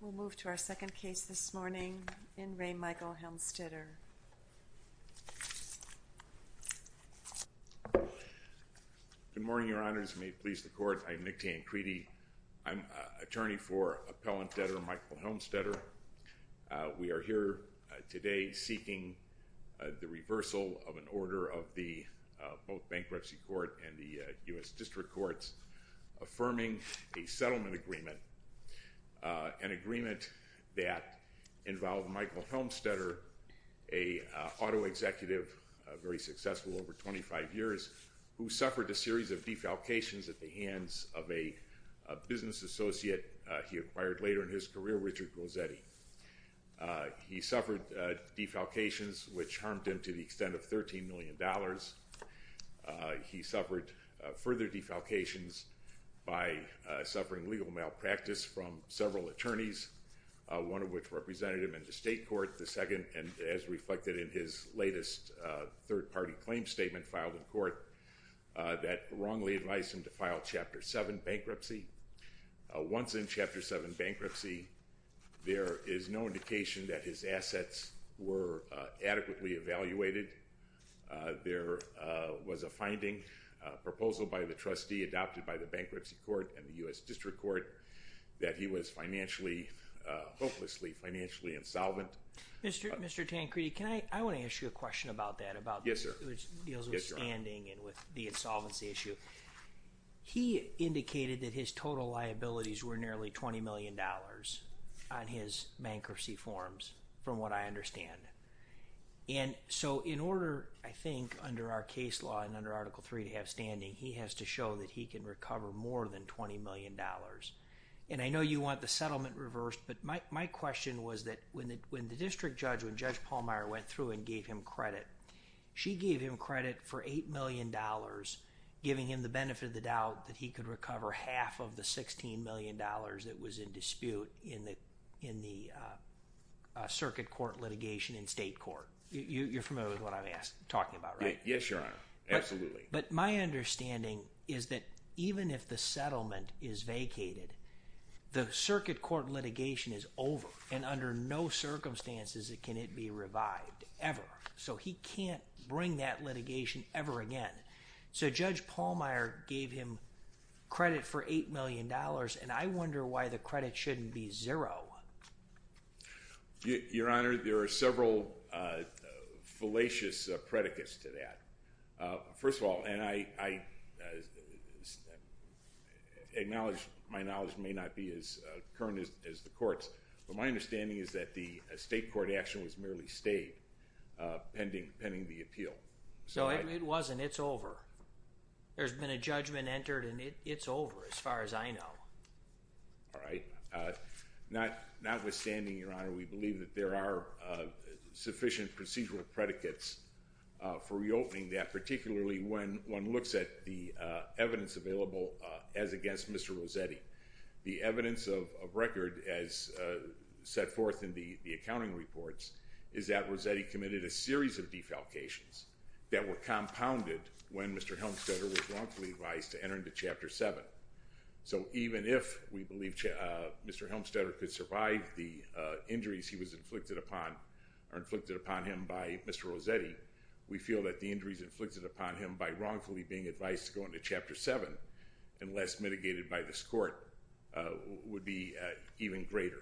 We'll move to our second case this morning in Ray Michael Helmstetter. Good morning, Your Honors. May it please the Court, I am Nick Tancredi. I'm attorney for Appellant Debtor Michael Helmstetter. We are here today seeking the reversal of an order of both the Bankruptcy Court and the U.S. District Courts affirming a settlement agreement, an agreement that involved Michael Helmstetter, an auto executive, very successful over 25 years, who suffered a series of defalcations at the hands of a business associate he acquired later in his career, Richard Grozzetti. He suffered defalcations which harmed him to the extent of $13 million. He suffered further defalcations by suffering legal malpractice from several attorneys, one of which represented him in the state court, the second, and as reflected in his latest third-party claim statement filed in court, that wrongly advised him to file Chapter 7 bankruptcy. Once in Chapter 7 bankruptcy, there is no indication that his assets were adequately evaluated. There was a finding, a proposal by the trustee adopted by the Bankruptcy Court and the U.S. District Court, that he was financially, hopelessly financially insolvent. Mr. Tancredi, I want to ask you a question about that, which deals with standing and with the insolvency issue. He indicated that his total liabilities were nearly $20 million on his bankruptcy forms, from what I understand. And so in order, I think, under our case law and under Article 3 to have standing, he has to show that he can recover more than $20 million. And I know you want the settlement reversed, but my question was that when the district judge, when Judge Pallmeyer went through and gave him credit, she gave him credit for $8 million, giving him the benefit of the doubt that he could recover half of the $16 million that was in dispute in the circuit court litigation in state court. You're familiar with what I'm talking about, right? Yes, Your Honor. Absolutely. But my understanding is that even if the settlement is vacated, the circuit court litigation is over. And under no circumstances can it be revived, ever. So he can't bring that litigation ever again. So Judge Pallmeyer gave him credit for $8 million, and I wonder why the credit shouldn't be zero. Your Honor, there are several fallacious predicates to that. First of all, and I acknowledge my knowledge may not be as current as the court's, but my understanding is that the state court action was merely stayed pending the appeal. So it wasn't. It's over. There's been a judgment entered, and it's over as far as I know. All right. Notwithstanding, Your Honor, we believe that there are sufficient procedural predicates for reopening that, particularly when one looks at the evidence available as against Mr. Rossetti. The evidence of record as set forth in the accounting reports is that Rossetti committed a series of defalcations that were compounded when Mr. Helmstetter was wrongfully advised to enter into Chapter 7. So even if we believe Mr. Helmstetter could survive the injuries he was inflicted upon, or inflicted upon him by Mr. Rossetti, we feel that the injuries inflicted upon him by wrongfully being advised to go into Chapter 7, unless mitigated by this court, would be even greater.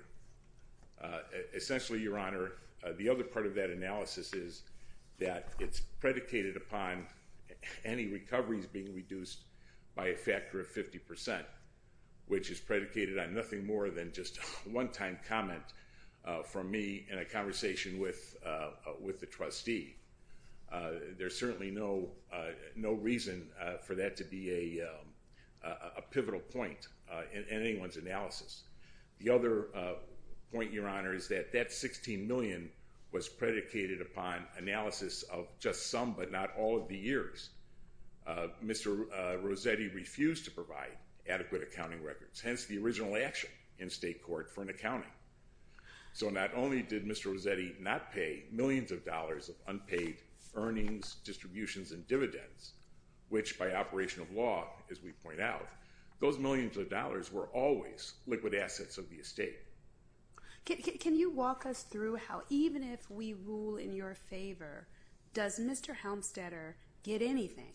Essentially, Your Honor, the other part of that analysis is that it's predicated upon any recoveries being reduced by a factor of 50%, which is predicated on nothing more than just a one-time comment from me in a conversation with the trustee. There's certainly no reason for that to be a pivotal point in anyone's analysis. The other point, Your Honor, is that that $16 million was predicated upon analysis of just some, but not all, of the years. Mr. Rossetti refused to provide adequate accounting records, hence the original action in state court for an accounting. So not only did Mr. Rossetti not pay millions of dollars of unpaid earnings, distributions, and dividends, which by operation of law, as we point out, those millions of dollars were always liquid assets of the estate. Can you walk us through how, even if we rule in your favor, does Mr. Helmstetter get anything,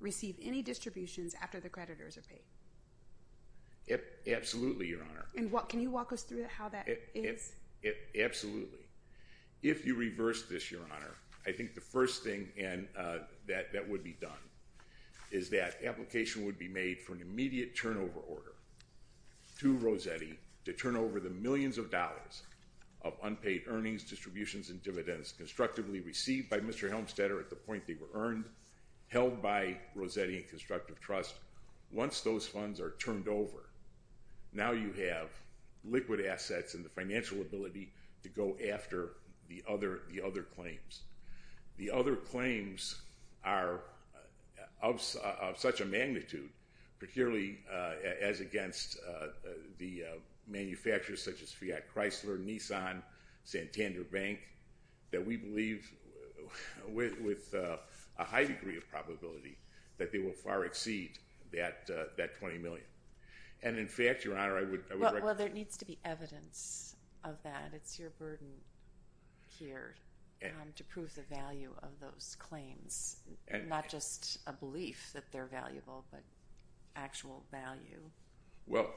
receive any distributions after the creditors are paid? Absolutely, Your Honor. And can you walk us through how that is? Absolutely. If you reverse this, Your Honor, I think the first thing that would be done is that application would be made for an immediate turnover order to Rossetti to turn over the millions of dollars of unpaid earnings, distributions, and dividends constructively received by Mr. Helmstetter at the point they were earned, held by Rossetti and Constructive Trust. Once those funds are turned over, now you have liquid assets and the financial ability to go after the other claims. The other claims are of such a magnitude, particularly as against the manufacturers, such as Fiat Chrysler, Nissan, Santander Bank, that we believe with a high degree of probability that they will far exceed that $20 million. And in fact, Your Honor, I would recommend— Well, there needs to be evidence of that. It's your burden here to prove the value of those claims. Not just a belief that they're valuable, but actual value.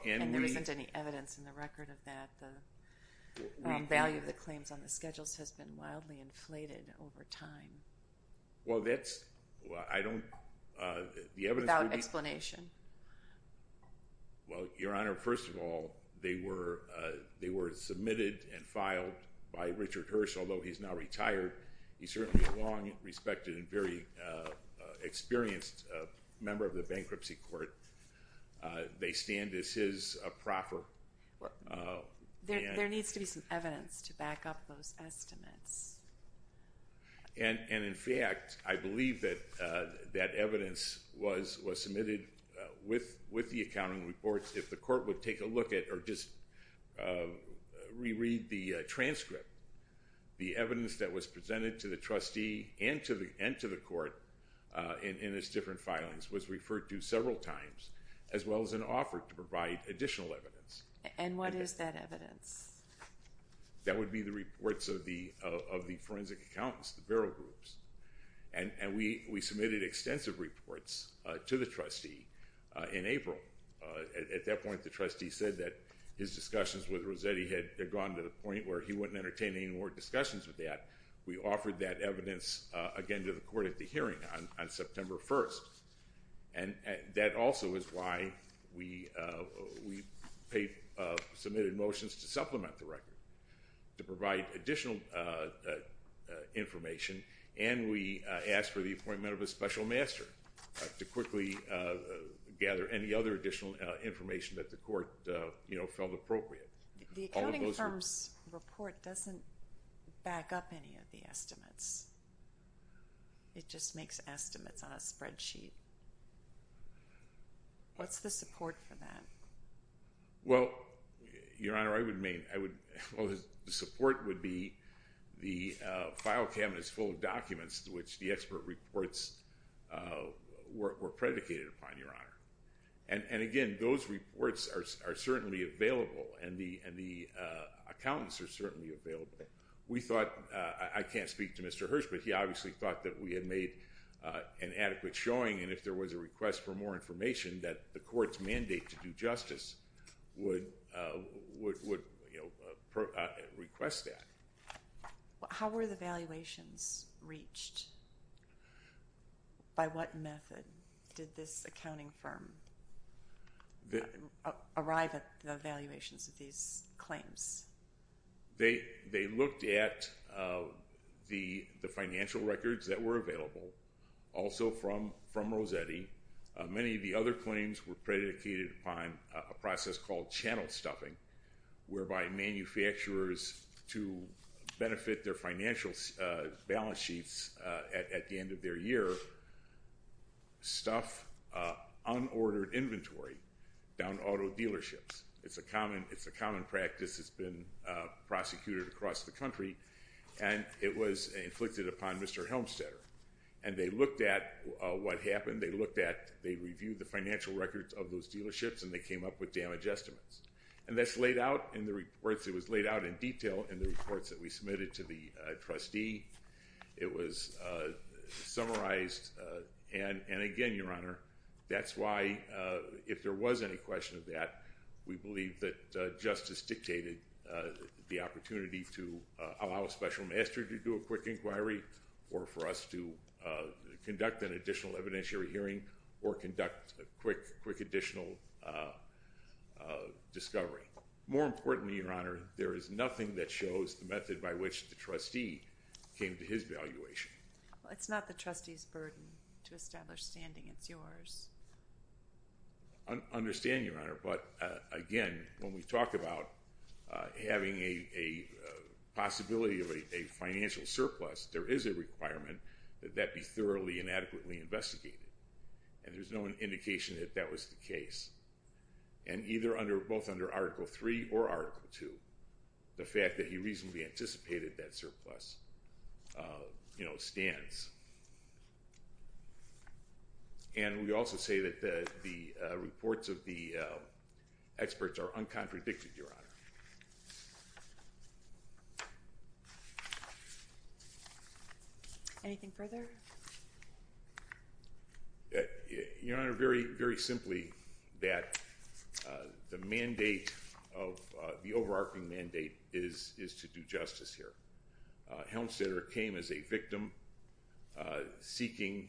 And there isn't any evidence in the record of that. The value of the claims on the schedules has been wildly inflated over time. Well, that's—I don't— Without explanation. Well, Your Honor, first of all, they were submitted and filed by Richard Hirsch, although he's now retired. He's certainly a long, respected, and very experienced member of the bankruptcy court. They stand as his proffer. There needs to be some evidence to back up those estimates. And in fact, I believe that that evidence was submitted with the accounting reports. If the court would take a look at or just reread the transcript, the evidence that was presented to the trustee and to the court in its different filings was referred to several times, as well as an offer to provide additional evidence. And what is that evidence? That would be the reports of the forensic accountants, the barrel groups. And we submitted extensive reports to the trustee in April. At that point, the trustee said that his discussions with Rossetti had gone to the point where he wouldn't entertain any more discussions with that. We offered that evidence again to the court at the hearing on September 1st. And that also is why we submitted motions to supplement the record, to provide additional information, and we asked for the appointment of a special master to quickly gather any other additional information that the court felt appropriate. The accounting firm's report doesn't back up any of the estimates. It just makes estimates on a spreadsheet. What's the support for that? Well, Your Honor, I would main—well, the support would be the file cabinet is full of documents to which the expert reports were predicated upon, Your Honor. And, again, those reports are certainly available, and the accountants are certainly available. We thought—I can't speak to Mr. Hirsch, but he obviously thought that we had made an adequate showing, and if there was a request for more information, that the court's mandate to do justice would request that. How were the valuations reached? By what method did this accounting firm arrive at the valuations of these claims? They looked at the financial records that were available, also from Rossetti. Many of the other claims were predicated upon a process called channel stuffing, whereby manufacturers, to benefit their financial balance sheets at the end of their year, stuff unordered inventory down auto dealerships. It's a common practice. It's been prosecuted across the country, and it was inflicted upon Mr. Helmstetter. And they looked at what happened. They looked at—they reviewed the financial records of those dealerships, and they came up with damage estimates. And that's laid out in the reports. It was laid out in detail in the reports that we submitted to the trustee. It was summarized. And again, Your Honor, that's why, if there was any question of that, we believe that justice dictated the opportunity to allow a special master to do a quick inquiry or for us to conduct an additional evidentiary hearing or conduct a quick additional discovery. More importantly, Your Honor, there is nothing that shows the method by which the trustee came to his valuation. Well, it's not the trustee's burden to establish standing. It's yours. I understand, Your Honor. But again, when we talk about having a possibility of a financial surplus, there is a requirement that that be thoroughly and adequately investigated. And there's no indication that that was the case. And either under—both under Article III or Article II, the fact that he reasonably anticipated that surplus stands. And we also say that the reports of the experts are uncontradicted, Your Honor. Anything further? Your Honor, very simply, that the mandate of—the overarching mandate is to do justice here. Helmstetter came as a victim seeking,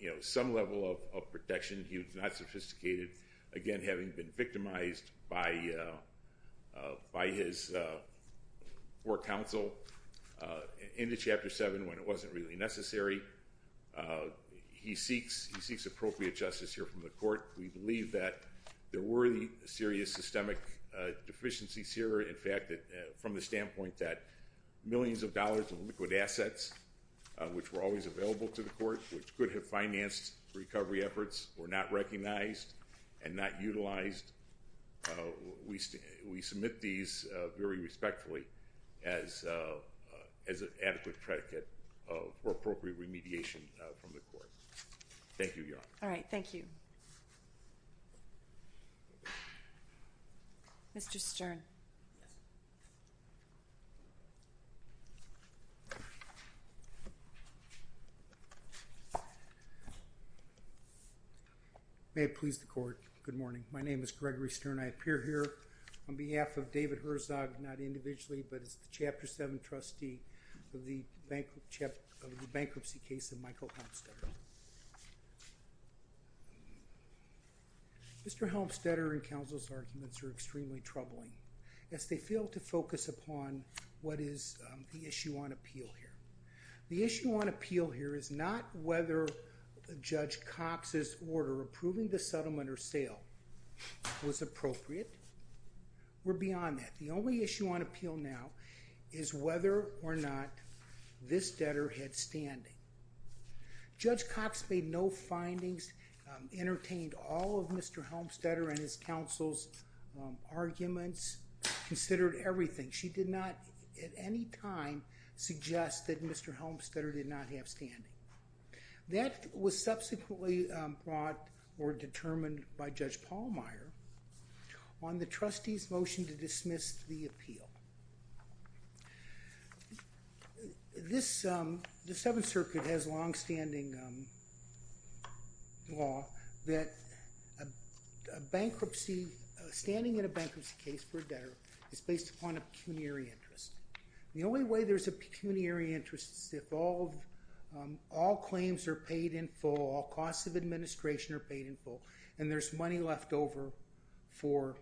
you know, some level of protection. He was not sophisticated. Again, having been victimized by his poor counsel in Chapter 7 when it wasn't really necessary, he seeks appropriate justice here from the court. We believe that there were serious systemic deficiencies here. In fact, from the standpoint that millions of dollars of liquid assets, which were always available to the court, which could have financed recovery efforts, were not recognized and not utilized, we submit these very respectfully as an adequate predicate for appropriate remediation from the court. Thank you, Your Honor. All right. Thank you. Mr. Stern. Yes. May it please the court. Good morning. My name is Gregory Stern. I appear here on behalf of David Herzog, not individually, but as the Chapter 7 trustee of the bankruptcy case of Michael Helmstetter. Mr. Helmstetter and counsel's arguments are extremely troubling as they fail to focus upon what is the issue on appeal here. The issue on appeal here is not whether Judge Cox's order approving the settlement or sale was appropriate or beyond that. The only issue on appeal now is whether or not this debtor had standing. Judge Cox made no findings, entertained all of Mr. Helmstetter and his counsel's arguments, considered everything. She did not at any time suggest that Mr. Helmstetter did not have standing. That was subsequently brought or determined by Judge Pallmeyer on the trustee's motion to dismiss the appeal. The Seventh Circuit has longstanding law that standing in a bankruptcy case for a debtor is based upon a pecuniary interest. The only way there's a pecuniary interest is if all claims are paid in full, all costs of administration are paid in full, and there's money left over for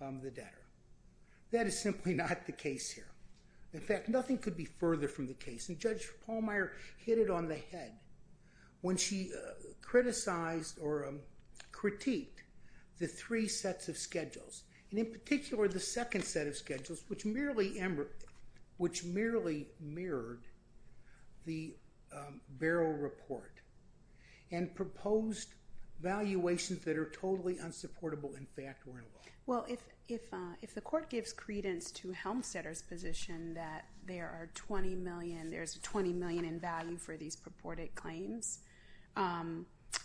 the debtor. That is simply not the case here. In fact, nothing could be further from the case, and Judge Pallmeyer hit it on the head when she criticized or critiqued the three sets of schedules. In particular, the second set of schedules, which merely mirrored the Barrow report and proposed valuations that are totally unsupportable in fact were in the law. Well, if the court gives credence to Helmstetter's position that there's $20 million in value for these purported claims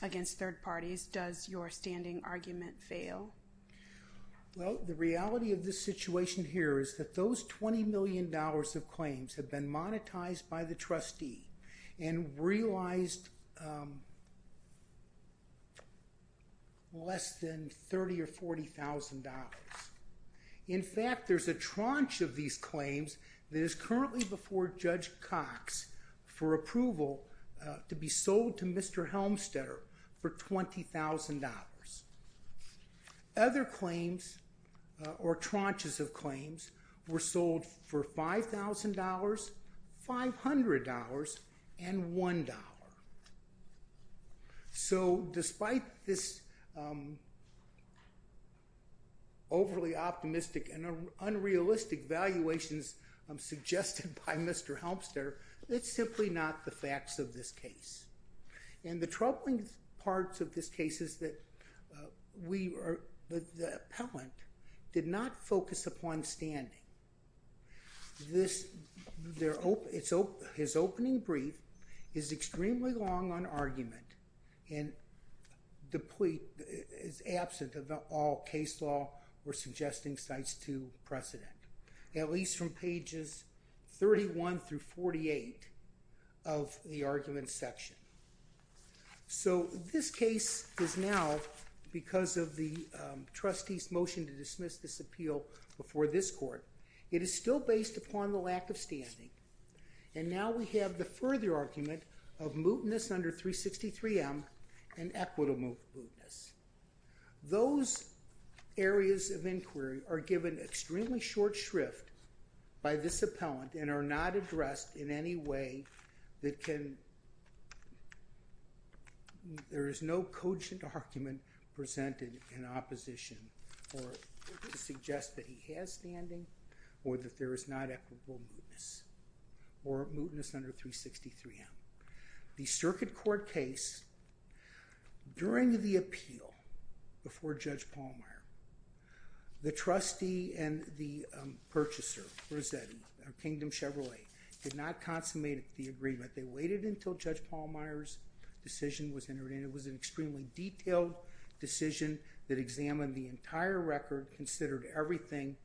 against third parties, does your standing argument fail? Well, the reality of this situation here is that those $20 million of claims have been monetized by the trustee and realized less than $30,000 or $40,000. In fact, there's a tranche of these claims that is currently before Judge Cox for approval to be sold to Mr. Helmstetter for $20,000. Other claims or tranches of claims were sold for $5,000, $500, and $1. So despite this overly optimistic and unrealistic valuations suggested by Mr. Helmstetter, it's simply not the facts of this case. And the troubling part of this case is that the appellant did not focus upon standing. His opening brief is extremely long on argument and is absent of all case law or suggesting sites to precedent, at least from pages 31 through 48 of the argument section. So this case is now, because of the trustee's motion to dismiss this appeal before this court, it is still based upon the lack of standing. And now we have the further argument of mootness under 363M and equitable mootness. Those areas of inquiry are given extremely short shrift by this appellant and are not addressed in any way that can... There is no cogent argument presented in opposition to suggest that he has standing or that there is not equitable mootness or mootness under 363M. The Circuit Court case, during the appeal before Judge Pallmeyer, the trustee and the purchaser, Rosetti, of Kingdom Chevrolet, did not consummate the agreement. They waited until Judge Pallmeyer's decision was entered in. It was an extremely detailed decision that examined the entire record, considered everything,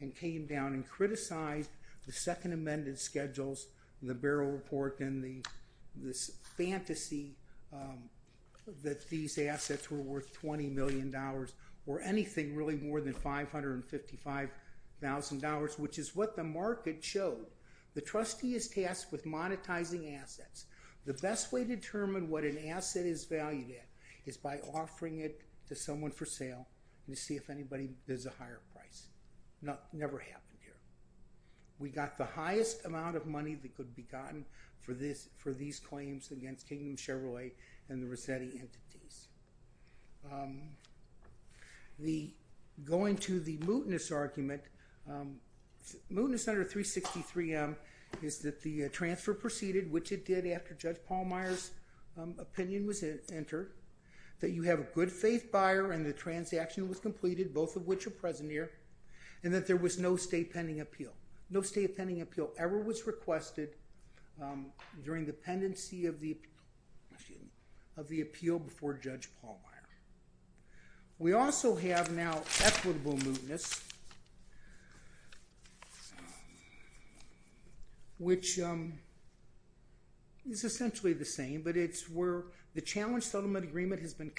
and came down and criticized the Second Amendment schedules, the Barrel Report, and this fantasy that these assets were worth $20 million or anything really more than $555,000, which is what the market showed. The trustee is tasked with monetizing assets. The best way to determine what an asset is valued at is by offering it to someone for sale to see if there's a higher price. It never happened here. We got the highest amount of money that could be gotten for these claims against Kingdom Chevrolet and the Rosetti entities. Going to the mootness argument, mootness under 363M is that the transfer proceeded, which it did after Judge Pallmeyer's opinion was entered, that you have a good faith buyer and the transaction was completed, both of which are present here, and that there was no state pending appeal. No state pending appeal ever was requested during the pendency of the appeal before Judge Pallmeyer. We also have now equitable mootness, which is essentially the same, but it's where the challenge settlement agreement has been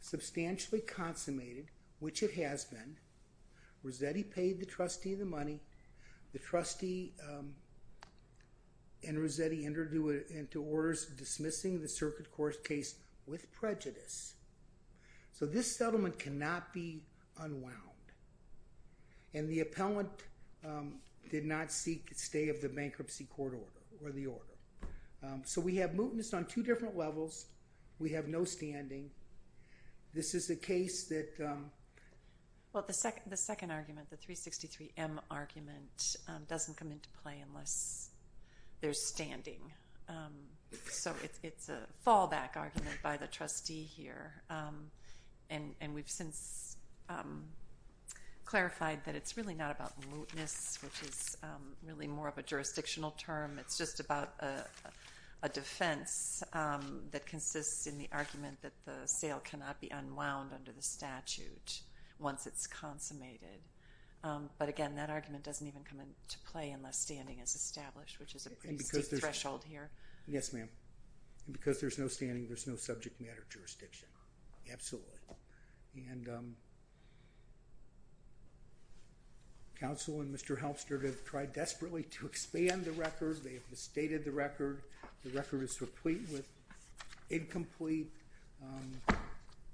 substantially consummated, which it has been. Rosetti paid the trustee the money. The trustee and Rosetti entered into orders dismissing the circuit court case with prejudice. So this settlement cannot be unwound. And the appellant did not seek stay of the bankruptcy court order or the order. So we have mootness on two different levels. We have no standing. This is a case that... Well, the second argument, the 363M argument, doesn't come into play unless there's standing. So it's a fallback argument by the trustee here. And we've since clarified that it's really not about mootness, which is really more of a jurisdictional term. It's just about a defense that consists in the argument that the sale cannot be unwound under the statute once it's consummated. But, again, that argument doesn't even come into play unless standing is established, which is a pretty steep threshold here. Yes, ma'am. And because there's no standing, there's no subject matter jurisdiction. Absolutely. And counsel and Mr. Halpstead have tried desperately to expand the record. They have misstated the record. The record is complete with incomplete.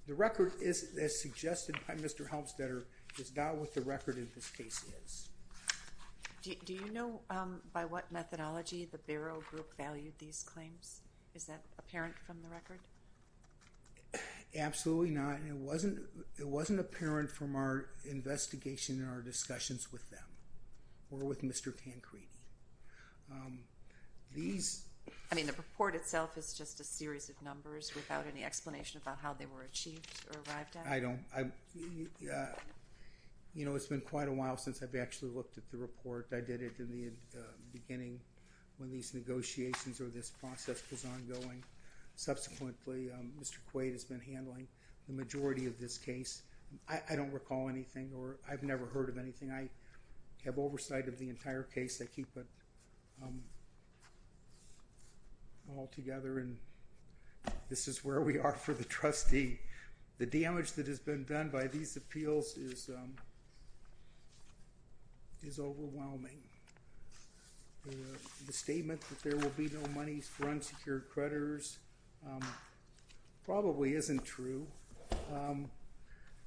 The record, as suggested by Mr. Halpstead, is not what the record in this case is. Do you know by what methodology the Barrow Group valued these claims? Is that apparent from the record? Absolutely not. And it wasn't apparent from our investigation and our discussions with them or with Mr. Tancredi. These... I mean, the report itself is just a series of numbers without any explanation about how they were achieved or arrived at? I don't. You know, it's been quite a while since I've actually looked at the report. I did it in the beginning when these negotiations or this process was ongoing. Subsequently, Mr. Quaid has been handling the majority of this case. I don't recall anything or I've never heard of anything. I have oversight of the entire case. I keep it all together. And this is where we are for the trustee. The damage that has been done by these appeals is overwhelming. The statement that there will be no money for unsecured creditors probably isn't true.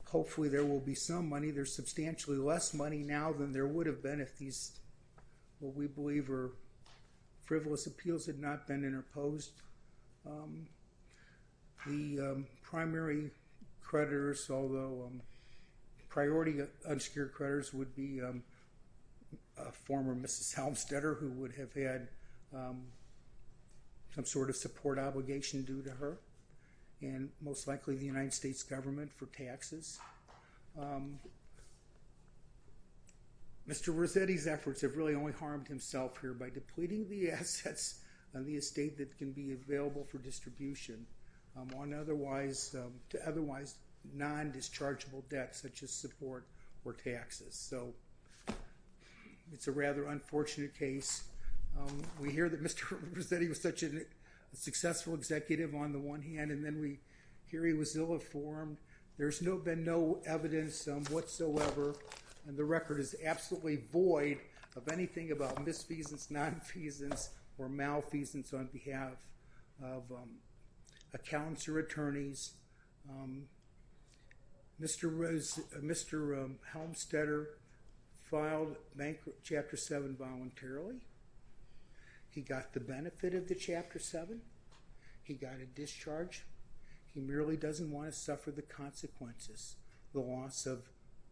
Hopefully, there will be some money. There's substantially less money now than there would have been if these, what we believe, are frivolous appeals had not been interposed. The primary creditors, although priority unsecured creditors, would be a former Mrs. Helmstetter, who would have had some sort of support obligation due to her, and most likely the United States government for taxes. Mr. Rossetti's efforts have really only harmed himself here by depleting the assets on the estate that can be available for distribution to otherwise non-dischargeable debts such as support or taxes. So it's a rather unfortunate case. We hear that Mr. Rossetti was such a successful executive on the one hand, and then we hear he was ill-informed. There's been no evidence whatsoever, and the record is absolutely void of anything about misfeasance, nonfeasance, or malfeasance on behalf of accountants or attorneys. Mr. Helmstetter filed Chapter 7 voluntarily. He got the benefit of the Chapter 7. He got a discharge. He merely doesn't want to suffer the consequences, the loss of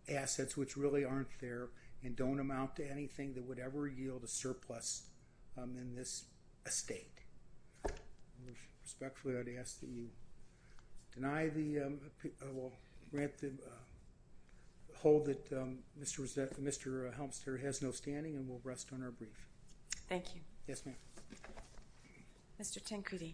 assets which really aren't there and don't amount to anything that would ever yield a surplus in this estate. Respectfully, I'd ask that you deny the—well, grant the—hold that Mr. Helmstetter has no standing, and we'll rest on our brief. Yes, ma'am. Mr. Tancredi.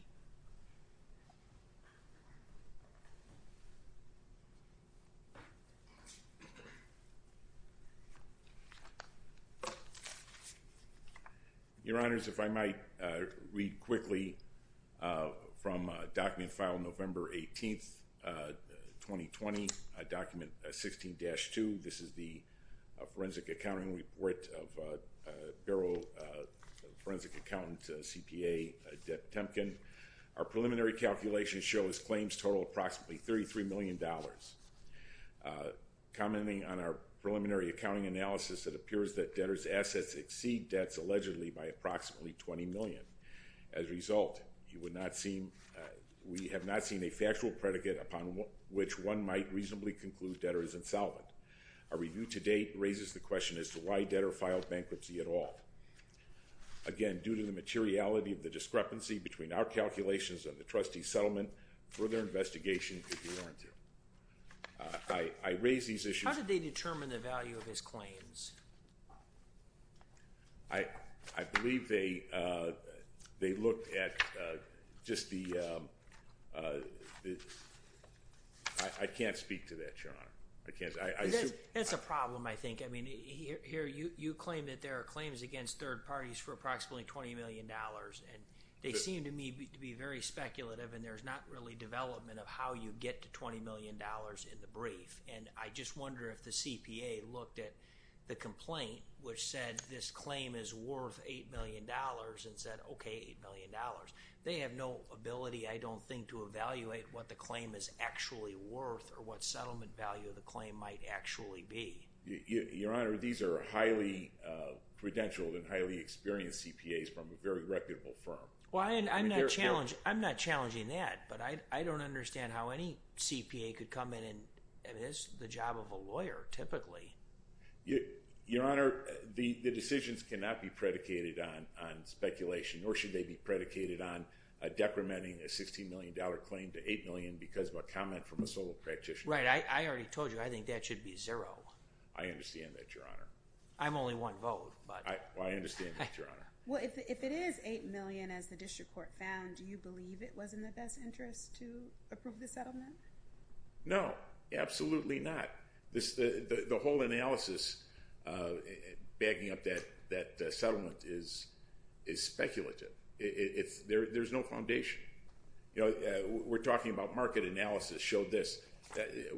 Your Honors, if I might read quickly from a document filed November 18, 2020, Document 16-2. This is the Forensic Accounting Report of Bureau Forensic Accountant, CPA, Deb Temkin. Our preliminary calculations show his claims total approximately $33 million. Commenting on our preliminary accounting analysis, it appears that debtors' assets exceed debts allegedly by approximately $20 million. As a result, we have not seen a factual predicate upon which one might reasonably conclude debtor is insolvent. Our review to date raises the question as to why debtor filed bankruptcy at all. Again, due to the materiality of the discrepancy between our calculations and the trustee's settlement, further investigation could be warranted. I raise these issues— How did they determine the value of his claims? I believe they looked at just the—I can't speak to that, Your Honor. That's a problem, I think. I mean, here you claim that there are claims against third parties for approximately $20 million, and they seem to me to be very speculative, and there's not really development of how you get to $20 million in the brief. And I just wonder if the CPA looked at the complaint, which said this claim is worth $8 million, and said, okay, $8 million. They have no ability, I don't think, to evaluate what the claim is actually worth or what settlement value the claim might actually be. Your Honor, these are highly credentialed and highly experienced CPAs from a very reputable firm. Well, I'm not challenging that, but I don't understand how any CPA could come in and miss the job of a lawyer, typically. Your Honor, the decisions cannot be predicated on speculation, nor should they be predicated on decrementing a $16 million claim to $8 million because of a comment from a sole practitioner. Right, I already told you, I think that should be zero. I understand that, Your Honor. I'm only one vote, but— Well, I understand that, Your Honor. Well, if it is $8 million, as the district court found, do you believe it was in the best interest to approve the settlement? No, absolutely not. The whole analysis bagging up that settlement is speculative. There's no foundation. We're talking about market analysis showed this.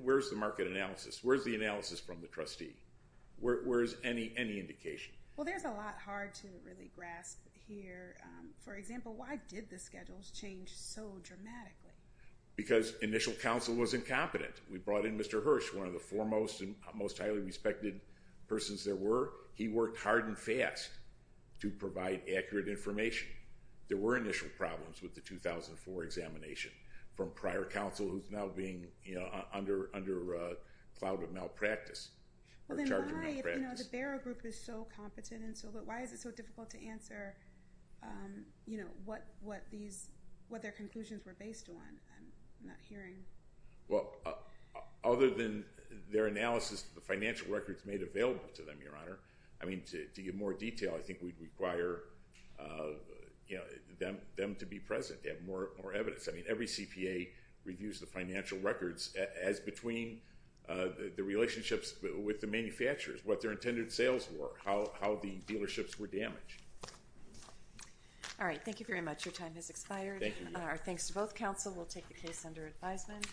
Where's the market analysis? Where's the analysis from the trustee? Where's any indication? Well, there's a lot hard to really grasp here. For example, why did the schedules change so dramatically? Because initial counsel was incompetent. We brought in Mr. Hirsch, one of the foremost and most highly respected persons there were. He worked hard and fast to provide accurate information. There were initial problems with the 2004 examination from prior counsel who's now being under a cloud of malpractice. Well, then why, if the Barrow Group is so competent, why is it so difficult to answer what their conclusions were based on? I'm not hearing. Well, other than their analysis of the financial records made available to them, Your Honor, I mean, to give more detail, I think we'd require them to be present to have more evidence. I mean, every CPA reviews the financial records as between the relationships with the manufacturers, what their intended sales were, how the dealerships were damaged. All right. Thank you very much. Your time has expired. Thank you. Our thanks to both counsel. We'll take the case under advisement.